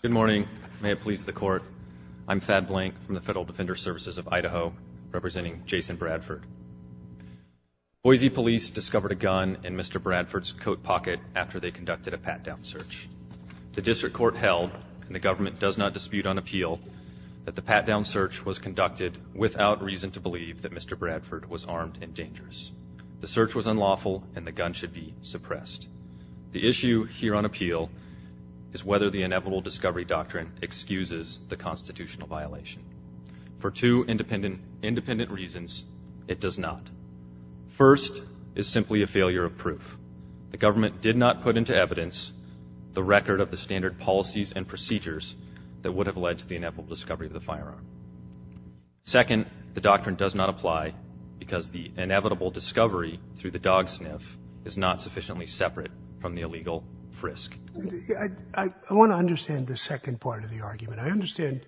Good morning. May it please the court. I'm Thad Blank from the Federal Defender Services of Idaho, representing Jason Bradford. Boise Police discovered a gun in Mr. Bradford's coat pocket after they conducted a pat-down search. The district court held, and the government does not dispute on appeal, that the pat-down search was conducted without reason to believe that Mr. Bradford was armed and dangerous. The search was unlawful and the gun should be suppressed. The issue here on appeal is whether the inevitable discovery doctrine excuses the constitutional violation. For two independent reasons, it does not. First, is the government did not put into evidence the record of the standard policies and procedures that would have led to the inevitable discovery of the firearm. Second, the doctrine does not apply because the inevitable discovery through the dog sniff is not sufficiently separate from the illegal frisk. Scalia I want to understand the second part of the argument. I understand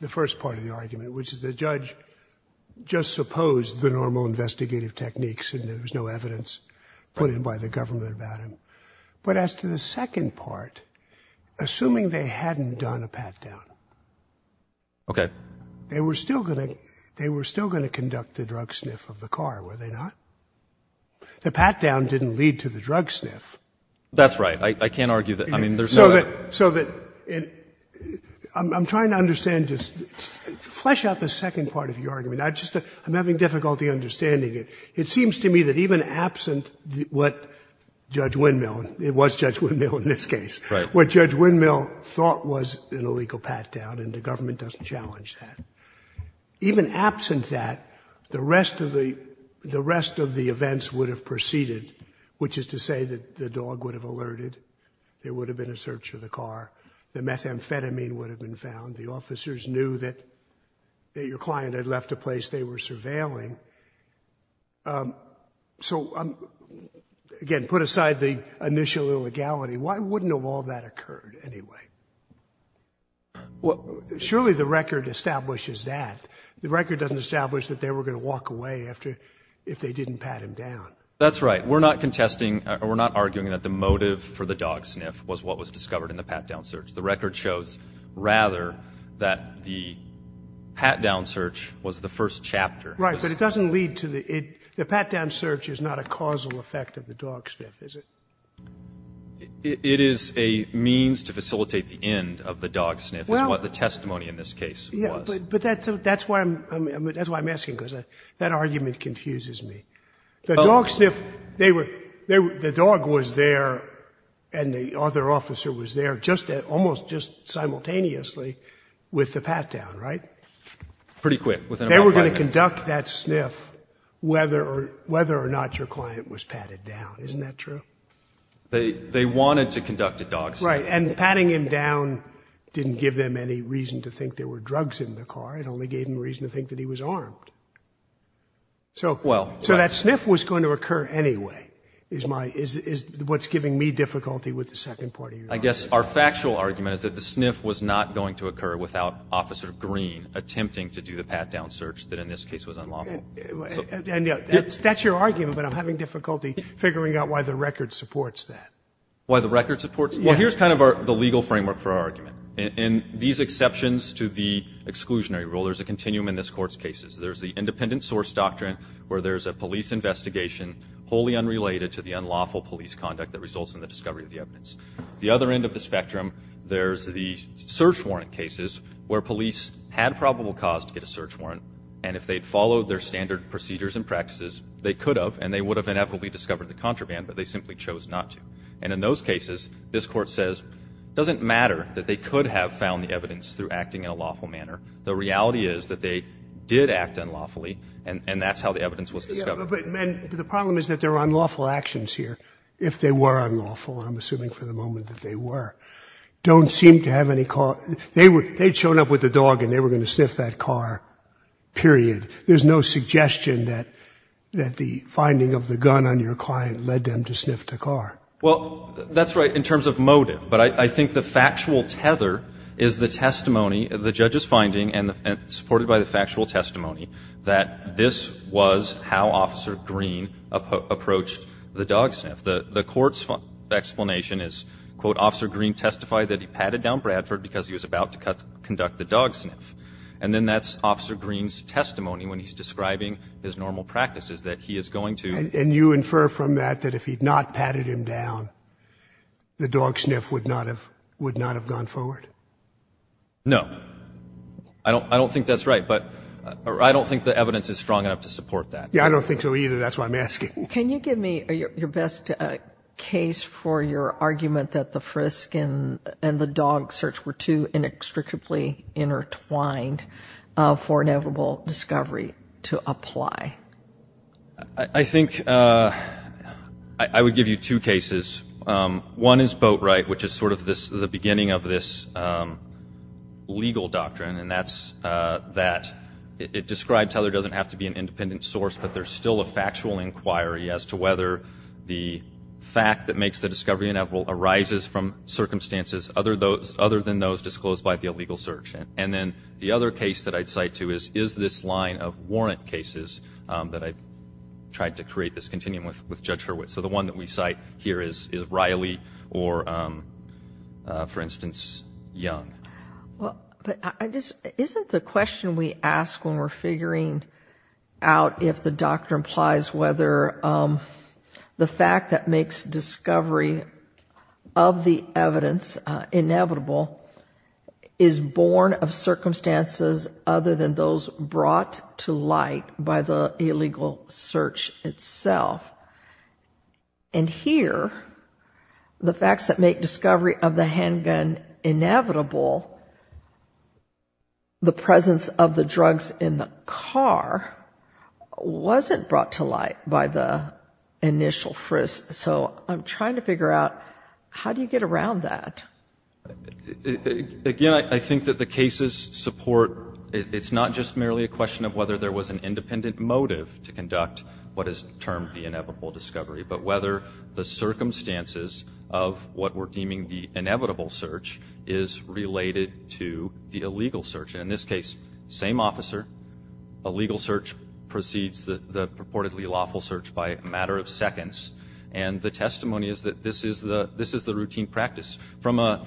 the first part of the argument, which is the judge just supposed the normal investigative techniques and there was no evidence put in by the government about him. But as to the second part, assuming they hadn't done a pat-down, they were still going to conduct the drug sniff of the car, were they not? The pat-down didn't lead to the drug sniff. Bradford That's right. I can't argue that. I mean, there's no doubt. Scalia So that, I'm trying to understand, flesh out the second part of your argument. I'm having difficulty understanding it. It seems to me that even absent what Judge Windmill, it was Judge Windmill in this case, what Judge Windmill thought was an illegal pat-down, and the government doesn't challenge that. Even absent that, the rest of the events would have proceeded, which is to say that the dog would have alerted, there would have been a search of the car, the methamphetamine would have been found, the officers knew that your client had left a place they were surveilling. So, again, put aside the initial illegality, why wouldn't all that have occurred anyway? Surely the record establishes that. The record doesn't establish that they were going to walk away if they didn't pat him down. Bradford That's right. We're not contesting, we're not arguing that the motive for the dog sniff was what was discovered in the pat-down search. The record shows, rather, that the pat-down search was the first chapter. Sotomayor Right, but it doesn't lead to the, the pat-down search is not a causal effect of the dog sniff, is it? Bradford It is a means to facilitate the end of the dog sniff, is what the testimony in this case was. Sotomayor But that's why I'm asking, because that argument confuses me. The dog sniff, they were, the dog was there and the other officer was there just at, almost just simultaneously with the pat-down, right? Bradford Pretty quick. Sotomayor They were going to conduct that sniff whether or, whether or not your client was patted down. Isn't that true? Bradford They, they wanted to conduct a dog sniff. Sotomayor Right, and patting him down didn't give them any reason to think there were drugs in the car. It only gave them reason to think that he was armed. So, so that sniff was going to occur anyway, is my, is, is what's giving me difficulty with the second part of your argument. Bradford I guess our factual argument is that the sniff was not going to occur without Officer Green attempting to do the pat-down search that in this case was unlawful. Sotomayor That's your argument, but I'm having difficulty figuring out why the record supports that. Bradford Why the record supports that? Well, here's kind of our, the legal framework for our argument. In these exceptions to the exclusionary rule, there's a continuum in this Court's cases. There's the independent source doctrine where there's a police investigation wholly unrelated to the unlawful police conduct that results in the discovery of the evidence. The other end of the spectrum, there's the search warrant cases where police had probable cause to get a search warrant, and if they had followed their standard procedures and practices, they could have, and they would have inevitably discovered the contraband, but they simply chose not to. And in those cases, this Court says it doesn't matter that they could have found the evidence through acting in a lawful manner. The reality is that they did act unlawfully, and, and that's how the evidence was discovered. Sotomayor But, but, but the problem is that there are unlawful actions here, if they were unlawful, I'm assuming for the moment that they were, don't seem to have any cause. They were, they'd shown up with a dog and they were going to sniff that car, period. There's no suggestion that, that the finding of the gun on your client led them to sniff the car. Well, that's right in terms of motive, but I, I think the factual tether is the testimony of the judge's finding and the, and supported by the factual testimony that this was how Officer Green approached the dog sniff. The, the Court's explanation is, quote, Officer Green testified that he patted down Bradford because he was about to cut, conduct the dog sniff, and then that's Officer Green's testimony when he's describing his normal practices, that he is going to And, and you infer from that that if he'd not patted him down, the dog sniff would not have, would not have gone forward? No. I don't, I don't think that's right, but I don't think the evidence is strong enough to support that. Yeah, I don't think so either. That's why I'm asking. Can you give me your best case for your argument that the frisk and the dog search were too inextricably intertwined for inevitable discovery to apply? I think I would give you two cases. One is Boatright, which is sort of this, the beginning of this legal doctrine, and that's that it, it describes how there doesn't have to be an independent source, but there's still a factual inquiry as to whether the fact that makes the discovery inevitable arises from circumstances other than those disclosed by the illegal search. And then the other case that I'd cite to is, is this line of warrant cases that I've tried to create this continuum with, with Judge Hurwitz. So the one that we cite here is, is Riley or, for instance, Young. Well, but I just, isn't the question we ask when we're figuring out if the doctrine implies whether the fact that makes discovery of the evidence inevitable is born of circumstances other than those brought to light by the illegal search itself. And here, the facts that make discovery of the handgun inevitable, the presence of the drugs in the car, wasn't brought to light by the initial frisk. So I'm trying to figure out, how do you get around that? Again, I think that the cases support, it's not just merely a question of whether there was an independent motive to conduct what is termed the inevitable discovery, but whether the circumstances of what we're deeming the inevitable search is related to the illegal search. And in this case, same officer, a legal search precedes the purportedly lawful search by a matter of seconds. And the testimony is that this is the, this is the routine practice. From a,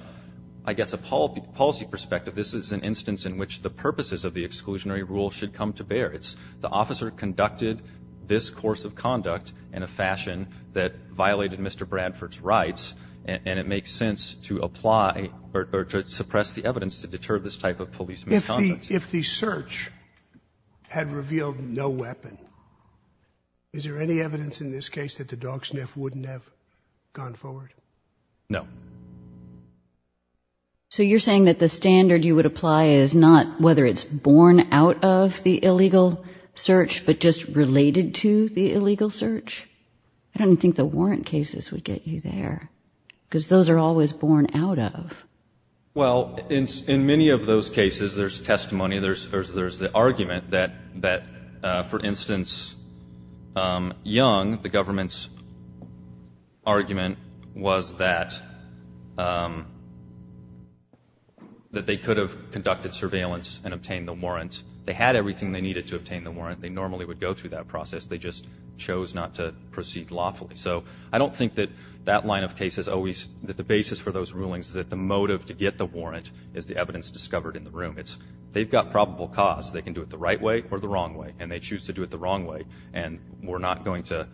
I guess, a policy perspective, this is an instance in which the purposes of the exclusionary rule should come to bear. It's the officer conducted this course of conduct in a fashion that violated Mr. Bradford's rights, and it makes sense to apply or to suppress the evidence to deter this type of police misconduct. If the search had revealed no weapon, is there any evidence in this case that the dog sniff wouldn't have gone forward? No. So you're saying that the standard you would apply is not whether it's born out of the illegal search, but just related to the illegal search? I don't think the warrant cases would get you there, because those are always born out of. Well, in, in many of those cases, there's testimony, there's, there's, there's the argument that, that, for instance, Young, the government's argument was that, that they could have conducted surveillance and obtained the warrant. They had everything they needed to obtain the warrant. They normally would go through that process. They just chose not to proceed lawfully. So I don't think that that line of case is always, that the basis for those rulings is that the motive to get the warrant is the evidence discovered in the room. It's, they've got probable cause. They can do it the right way or the wrong way. And they choose to do it the wrong way. And we're not going to,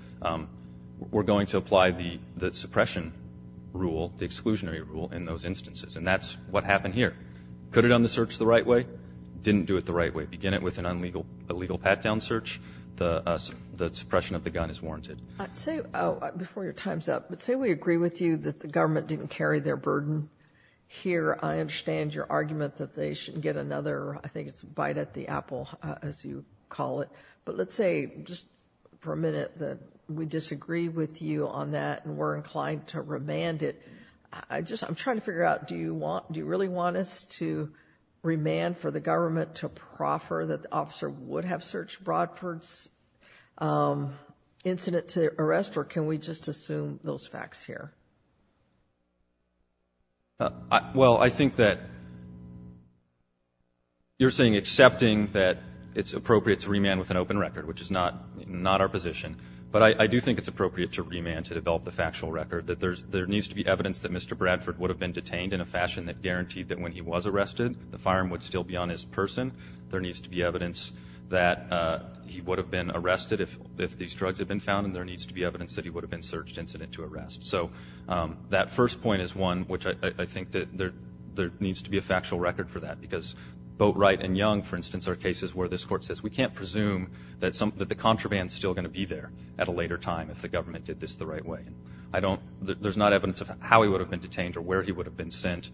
we're going to apply the, the suppression rule, the exclusionary rule in those instances. And that's what happened here. Could it end the search the right way? Didn't do it the right way. Begin it with an illegal pat-down search, the, the suppression of the gun is warranted. Say, before your time's up, but say we agree with you that the government didn't carry their burden here. I understand your argument that they shouldn't get another, I think it's a bite at the apple as you call it. But let's say just for a minute that we disagree with you on that and we're inclined to remand it. I just, I'm trying to figure out, do you want, do you really want us to remand for the government to proffer that the officer would have searched Mr. Bradford's incident to arrest, or can we just assume those facts here? Well, I think that you're saying accepting that it's appropriate to remand with an open record, which is not, not our position. But I, I do think it's appropriate to remand to develop the factual record. That there's, there needs to be evidence that Mr. Bradford would have been detained in a fashion that guaranteed that when he was arrested the firearm would still be on his person. There needs to be evidence that he would have been arrested if these drugs had been found, and there needs to be evidence that he would have been searched incident to arrest. So that first point is one which I think that there needs to be a factual record for that. Because Boatwright and Young, for instance, are cases where this court says we can't presume that the contraband is still going to be there at a later time if the government did this the right way. I don't, there's not evidence of how he would have been detained or where he would have been sent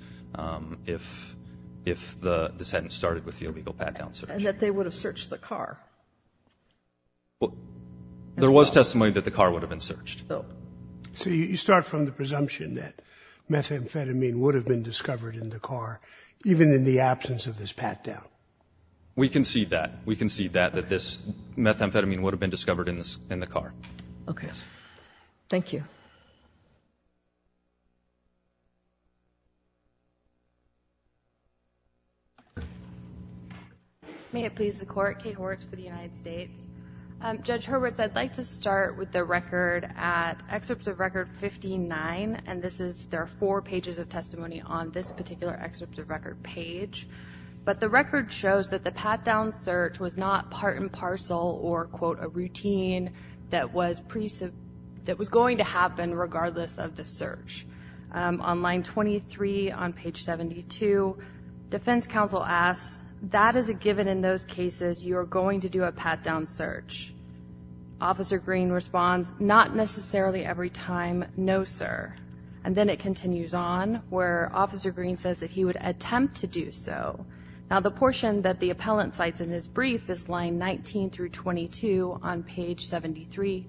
if, if the, this hadn't started with the illegal pat-down search. And that they would have searched the car? Well, there was testimony that the car would have been searched. Oh. So you, you start from the presumption that methamphetamine would have been discovered in the car, even in the absence of this pat-down? We concede that. We concede that, that this methamphetamine would have been discovered in the, in the car. Okay. Thank you. May it please the Court. Kate Horwitz for the United States. Judge Hurwitz, I'd like to start with the record at excerpts of record 59. And this is, there are four pages of testimony on this particular excerpts of record page. But the record shows that the pat-down search was not part and parcel or, quote, a routine that was pre, that was going to happen regardless of the search. On line 23 on page 72, defense counsel asks, that is a given in those cases you are going to do a pat-down search. Officer Green responds, not necessarily every time, no sir. And then it continues on where Officer Green says that he would attempt to do so. Now, the portion that the appellant cites in his brief is line 19 through 22 on page 73.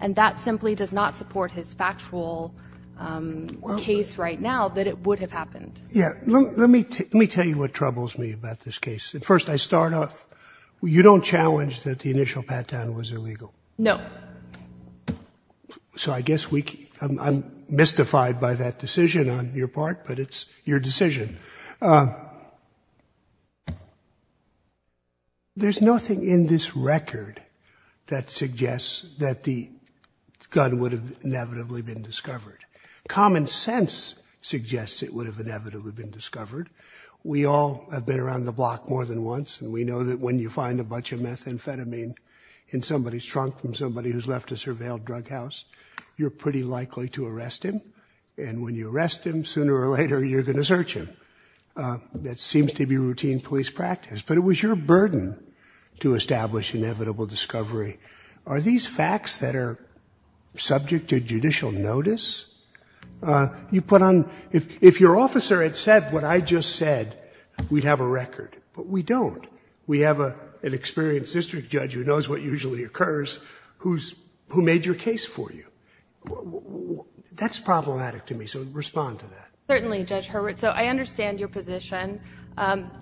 And that simply does not support his factual case right now that it would have happened. Yeah. Let me tell you what troubles me about this case. First, I start off, you don't challenge that the initial pat-down was illegal? No. So I guess we, I'm mystified by that decision on your part, but it's your decision. There's nothing in this record that suggests that the gun would have inevitably been discovered. Common sense suggests it would have inevitably been discovered. We all have been around the block more than once, and we know that when you find a bunch of methamphetamine in somebody's trunk from somebody who's left a surveilled drug house, you're pretty likely to arrest him. And when you arrest him, sooner or later, you're going to search him. That seems to be routine police practice. But it was your burden to establish inevitable discovery. Are these facts that are subject to judicial notice? You put on, if your officer had said what I just said, we'd have a record. But we don't. We have an experienced district judge who knows what usually occurs who's, who made your case for you. That's problematic to me. So respond to that. Certainly, Judge Hurwitz. So I understand your position.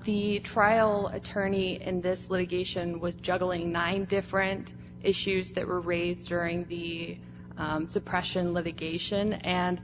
The trial attorney in this litigation was juggling nine different issues that were raised during the suppression litigation. And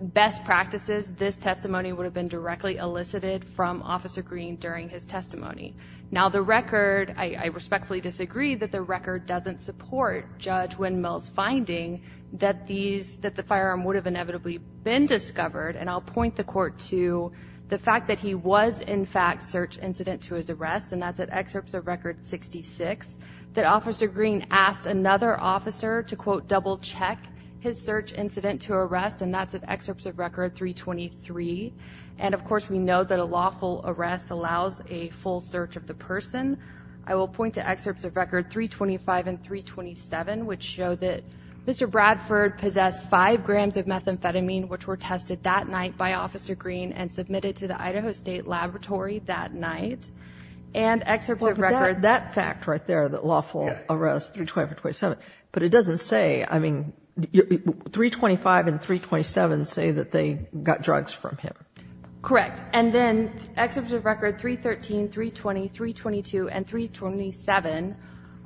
best practices, this testimony would have been directly elicited from Officer Green during his testimony. Now the record, I respectfully disagree that the record doesn't support Judge Windmill's finding that the firearm would have inevitably been discovered. And I'll point the court to the fact that he was in fact search incident to his arrest, and that's at excerpts of record 66, that Officer Green asked another officer to, quote, double check his search incident to arrest, and that's at excerpts of record 323. And of course, we know that a lawful arrest allows a full search of the person. I will point to excerpts of record 325 and 327, which show that Mr. Bradford possessed five grams of methamphetamine, which were tested that night by Officer Green and submitted to the Idaho State Laboratory that night. And excerpts of record- That fact right there, that lawful arrest 325 and 327, but it doesn't say, I mean, 325 and 327 say that they got drugs from him. Correct. And then excerpts of record 313, 320, 322, and 327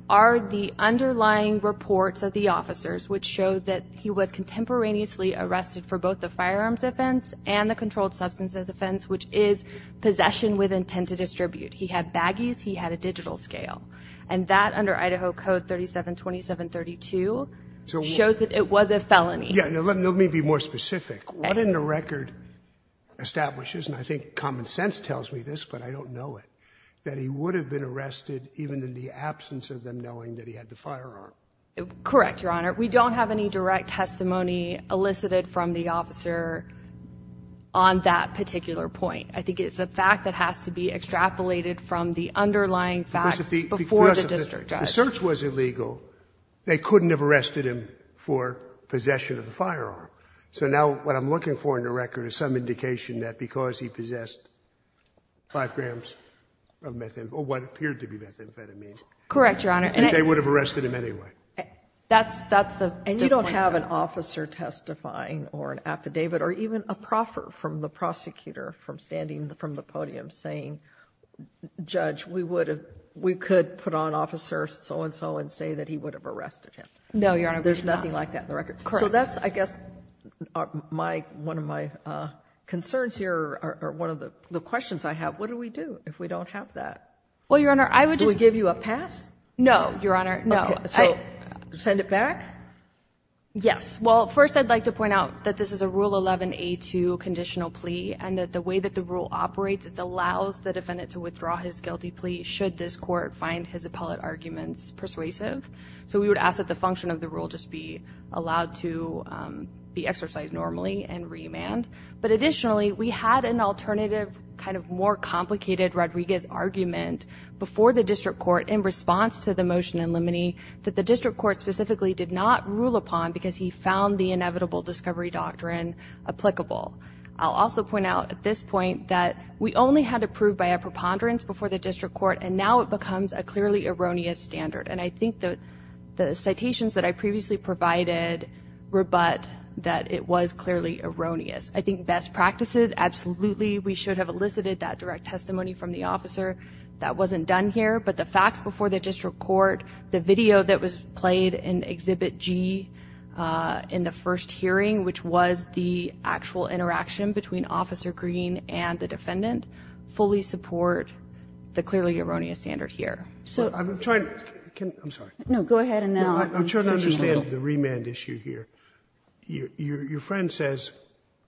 are the underlying reports of the officers, which showed that he was contemporaneously arrested for both the firearms offense and the controlled substances offense, which is possession with intent to distribute. He had baggies, he had a digital scale. And that under Idaho Code 372732 shows that it was a felony. Yeah, now let me be more specific. What in the record establishes, and I think common sense tells me this, but I don't know it, that he would have been arrested even in the absence of them knowing that he had the firearm? Correct, Your Honor. We don't have any direct testimony elicited from the officer on that particular point. I think it's a fact that has to be extrapolated from the underlying facts before the district judge. If the search was illegal, they couldn't have arrested him for possession of the firearm. So now what I'm looking for in the record is some indication that because he possessed 5 grams of methamphetamine, or what appeared to be methamphetamine, they would have arrested him anyway. That's the difference. And you don't have an officer testifying or an affidavit or even a proffer from the prosecutor from the podium saying, Judge, we could put on Officer so-and-so and say that he would have arrested him. No, Your Honor. There's nothing like that in the record. Correct. So that's, I guess, one of my concerns here, or one of the questions I have. What do we do if we don't have that? Well, Your Honor, I would just... Do we give you a pass? No, Your Honor, no. Okay, so send it back? Yes. Well, first I'd like to point out that this is a Rule 11a2 conditional plea and that the way that the rule operates, it allows the defendant to withdraw his guilty plea should this court find his appellate arguments persuasive. So we would ask that the function of the rule just be allowed to be exercised normally and remand. But additionally, we had an alternative, kind of more complicated Rodriguez argument before the district court in response to the motion in limine that the district court specifically did not rule upon because he found the inevitable discovery doctrine applicable. I'll also point out at this point that we only had to prove by a preponderance before the district court, and now it becomes a clearly erroneous standard. And I think the citations that I previously provided rebut that it was clearly erroneous. I think best practices, absolutely, we should have elicited that direct testimony from the officer. That wasn't done here. But the facts before the district court, the video that was played in Exhibit G in the first hearing, which was the actual interaction between Officer Green and the defendant, fully support the clearly erroneous standard here. So I'm trying to understand the remand issue here. Your friend says,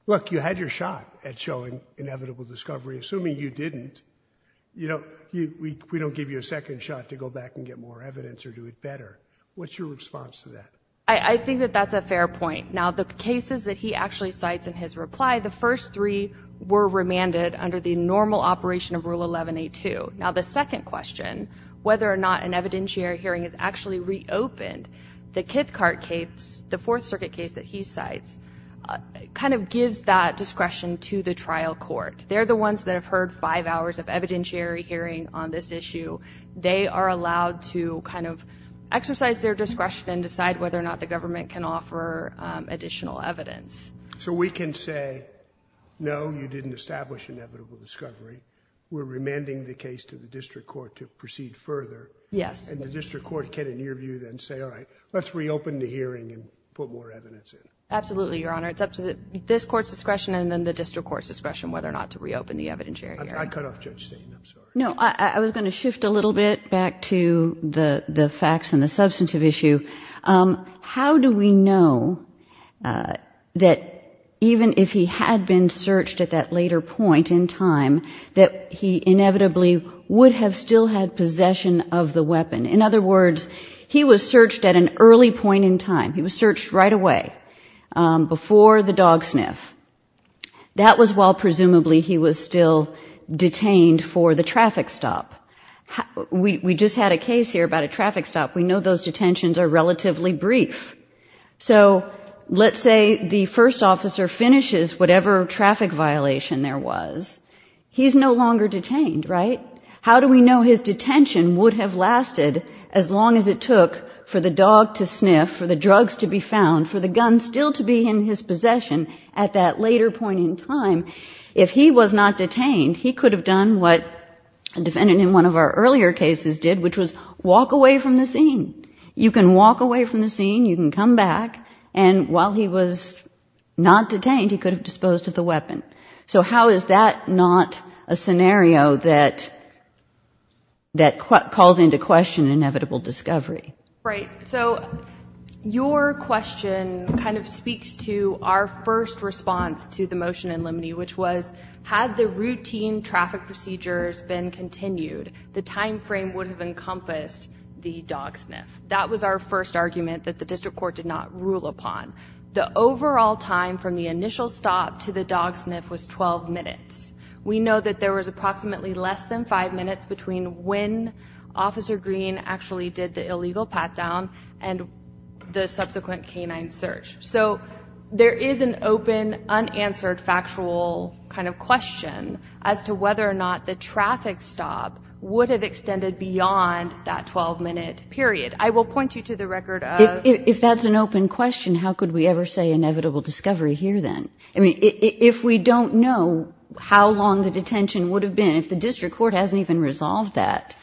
look, you had your shot at showing inevitable discovery, assuming you didn't, you know, we don't give you a second shot to go back and get more evidence or do it better. What's your response to that? I think that that's a fair point. Now, the cases that he actually cites in his reply, the first three were remanded under the normal operation of Rule 11A2. Now, the second question, whether or not an evidentiary hearing is actually reopened, the Kithcart case, the Fourth Circuit case that he cites, kind of gives that discretion to the trial court. They're the ones that have heard five hours of evidentiary hearing on this issue. They are allowed to kind of exercise their discretion and decide whether or not the government can offer additional evidence. So we can say, no, you didn't establish inevitable discovery. We're remanding the case to the district court to proceed further. Yes. And the district court can, in your view, then say, all right, let's reopen the hearing and put more evidence in. Absolutely, Your Honor. It's up to this court's discretion and then the district court's discretion whether or not to reopen the evidentiary hearing. I cut off Judge Stain. I'm sorry. No, I was going to shift a little bit back to the facts and the substantive issue. How do we know that even if he had been searched at that later point in time, that he inevitably would have still had possession of the weapon? In other words, he was searched at an early point in time. He was searched right away, before the dog sniff. That was while, presumably, he was still detained for the traffic stop. We just had a case here about a traffic stop. We know those detentions are relatively brief. So let's say the first officer finishes whatever traffic violation there was. He's no longer detained, right? How do we know his detention would have lasted as long as it took for the dog to sniff, for that later point in time? If he was not detained, he could have done what a defendant in one of our earlier cases did, which was walk away from the scene. You can walk away from the scene. You can come back. And while he was not detained, he could have disposed of the weapon. So how is that not a scenario that calls into question inevitable discovery? Right. So your question kind of speaks to our first response to the motion in limine, which was, had the routine traffic procedures been continued, the time frame would have encompassed the dog sniff. That was our first argument that the district court did not rule upon. The overall time from the initial stop to the dog sniff was 12 minutes. We know that there was approximately less than five minutes between when Officer Green actually did the illegal pat-down and the subsequent canine search. So there is an open, unanswered, factual kind of question as to whether or not the traffic stop would have extended beyond that 12-minute period. I will point you to the record of... If that's an open question, how could we ever say inevitable discovery here then? I mean, if we don't know how long the detention would have been, if the district court hasn't even resolved that,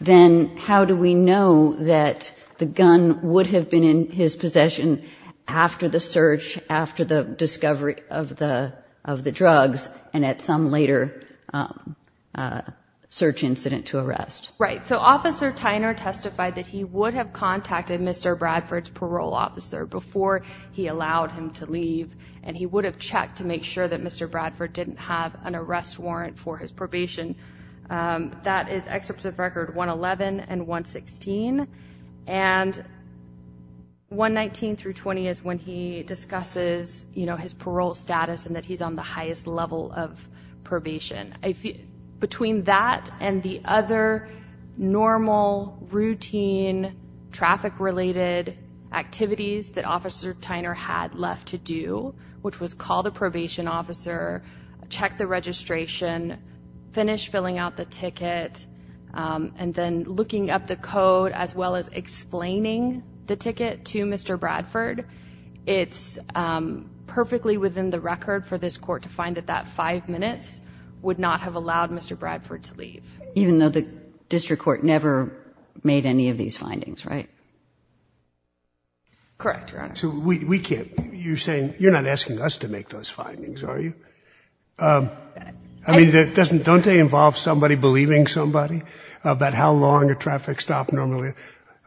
then how do we know that the gun would have been in his possession after the search, after the discovery of the drugs, and at some later search incident to arrest? Right. So Officer Tyner testified that he would have contacted Mr. Bradford's parole officer before he allowed him to leave, and he would have checked to make sure that Mr. Bradford didn't have an arrest warrant for his probation. That is excerpts of record 111 and 116, and 119 through 20 is when he discusses his parole status and that he's on the highest level of probation. Between that and the other normal, routine, traffic-related activities that Officer Tyner had left to do, which was call the probation officer, check the registration, finish filling out the ticket, and then looking up the code as well as explaining the ticket to Mr. Bradford, it's perfectly within the record for this court to find that that five minutes would not have allowed Mr. Bradford to leave. Even though the district court never made any of these findings, right? Correct, Your Honor. So we can't, you're saying, you're not asking us to make those findings, are you? I mean, doesn't, don't they involve somebody believing somebody about how long a traffic stop normally,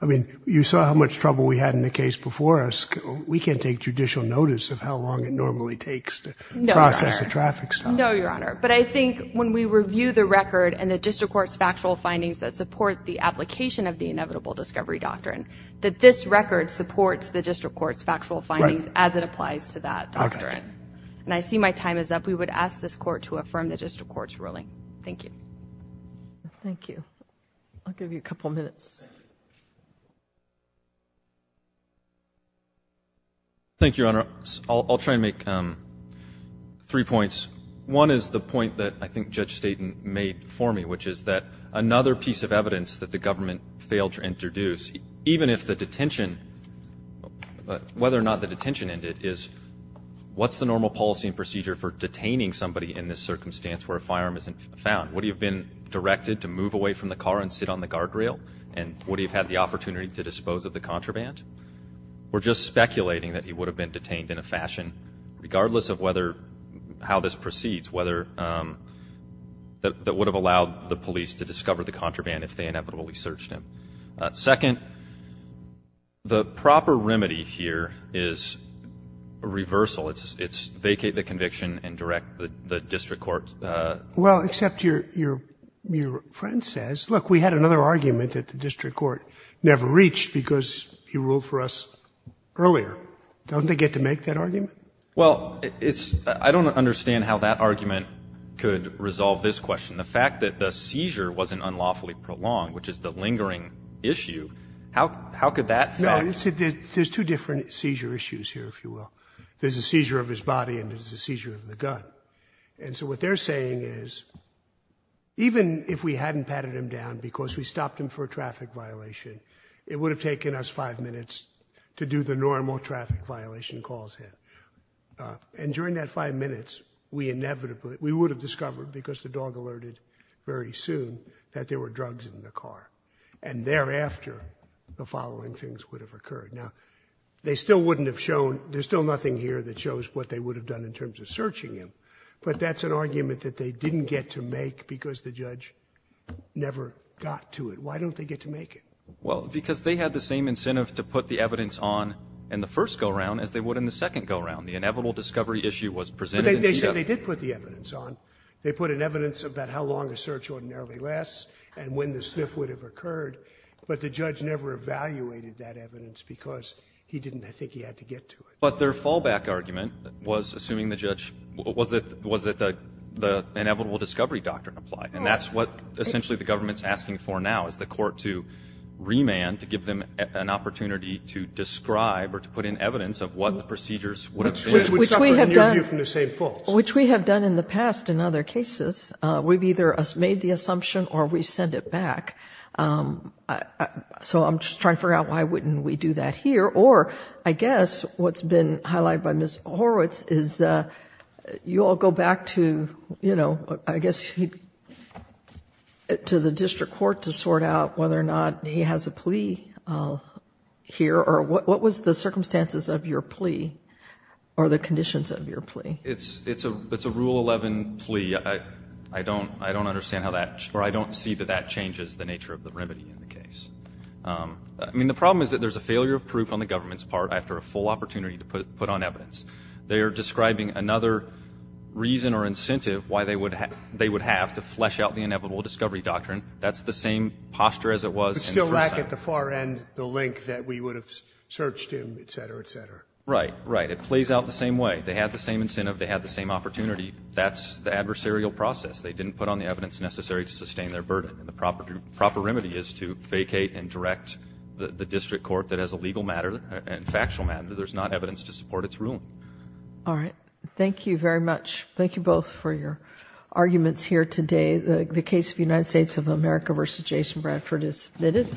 I mean, you saw how much trouble we had in the case before us. We can't take judicial notice of how long it normally takes to process a traffic stop. No, Your Honor. But I think when we review the record and the district court's factual findings that support the application of the inevitable discovery doctrine, that this record supports the district court's factual findings as it applies to that doctrine. And I see my time is up. We would ask this court to affirm the district court's ruling. Thank you. Thank you. I'll give you a couple minutes. Thank you, Your Honor. I'll try and make three points. One is the point that I think Judge Staten made for me, which is that another piece of whether or not the detention ended is what's the normal policy and procedure for detaining somebody in this circumstance where a firearm isn't found? Would he have been directed to move away from the car and sit on the guardrail? And would he have had the opportunity to dispose of the contraband? We're just speculating that he would have been detained in a fashion, regardless of whether, how this proceeds, whether that would have allowed the police to discover the contraband if they inevitably searched him. Second, the proper remedy here is a reversal. It's vacate the conviction and direct the district court. Well, except your friend says, look, we had another argument that the district court never reached because he ruled for us earlier. Don't they get to make that argument? Well, it's — I don't understand how that argument could resolve this question. The fact that the seizure wasn't unlawfully prolonged, which is the lingering issue, how could that — No, you see, there's two different seizure issues here, if you will. There's a seizure of his body and there's a seizure of the gun. And so what they're saying is, even if we hadn't patted him down because we stopped him for a traffic violation, it would have taken us five minutes to do the normal traffic violation calls here. And during that five minutes, we inevitably — we would have discovered, because the dog alerted very soon, that there were drugs in the car. And thereafter, the following things would have occurred. Now, they still wouldn't have shown — there's still nothing here that shows what they would have done in terms of searching him. But that's an argument that they didn't get to make because the judge never got to it. Why don't they get to make it? Well, because they had the same incentive to put the evidence on in the first go-around as they would in the second go-around. The inevitable discovery issue was presented in the evidence. But they said they did put the evidence on. They put in evidence about how long a search ordinarily lasts and when the sniff would have occurred. But the judge never evaluated that evidence because he didn't think he had to get to it. But their fallback argument was, assuming the judge — was that the inevitable discovery doctrine applied. And that's what essentially the government's asking for now, is the Court to remand, to give them an opportunity to describe or to put in evidence of what the procedures would have been. Which we have done. Which we have done in the past in other cases. We've either made the assumption or we've sent it back. So I'm just trying to figure out why wouldn't we do that here. Or, I guess, what's been highlighted by Ms. Horowitz is you all go back to, you know, the plea here, or what was the circumstances of your plea, or the conditions of your plea? It's a Rule 11 plea. I don't understand how that — or I don't see that that changes the nature of the remedy in the case. I mean, the problem is that there's a failure of proof on the government's part after a full opportunity to put on evidence. They are describing another reason or incentive why they would have to flesh out the inevitable discovery doctrine. That's the same posture as it was in the first sentence. Back at the far end, the link that we would have searched in, et cetera, et cetera. Right. Right. It plays out the same way. They had the same incentive. They had the same opportunity. That's the adversarial process. They didn't put on the evidence necessary to sustain their burden. And the proper remedy is to vacate and direct the district court that has a legal matter and factual matter that there's not evidence to support its ruling. All right. Thank you very much. Thank you both for your arguments here today. The case of the United States of America versus Jason Bradford is submitted.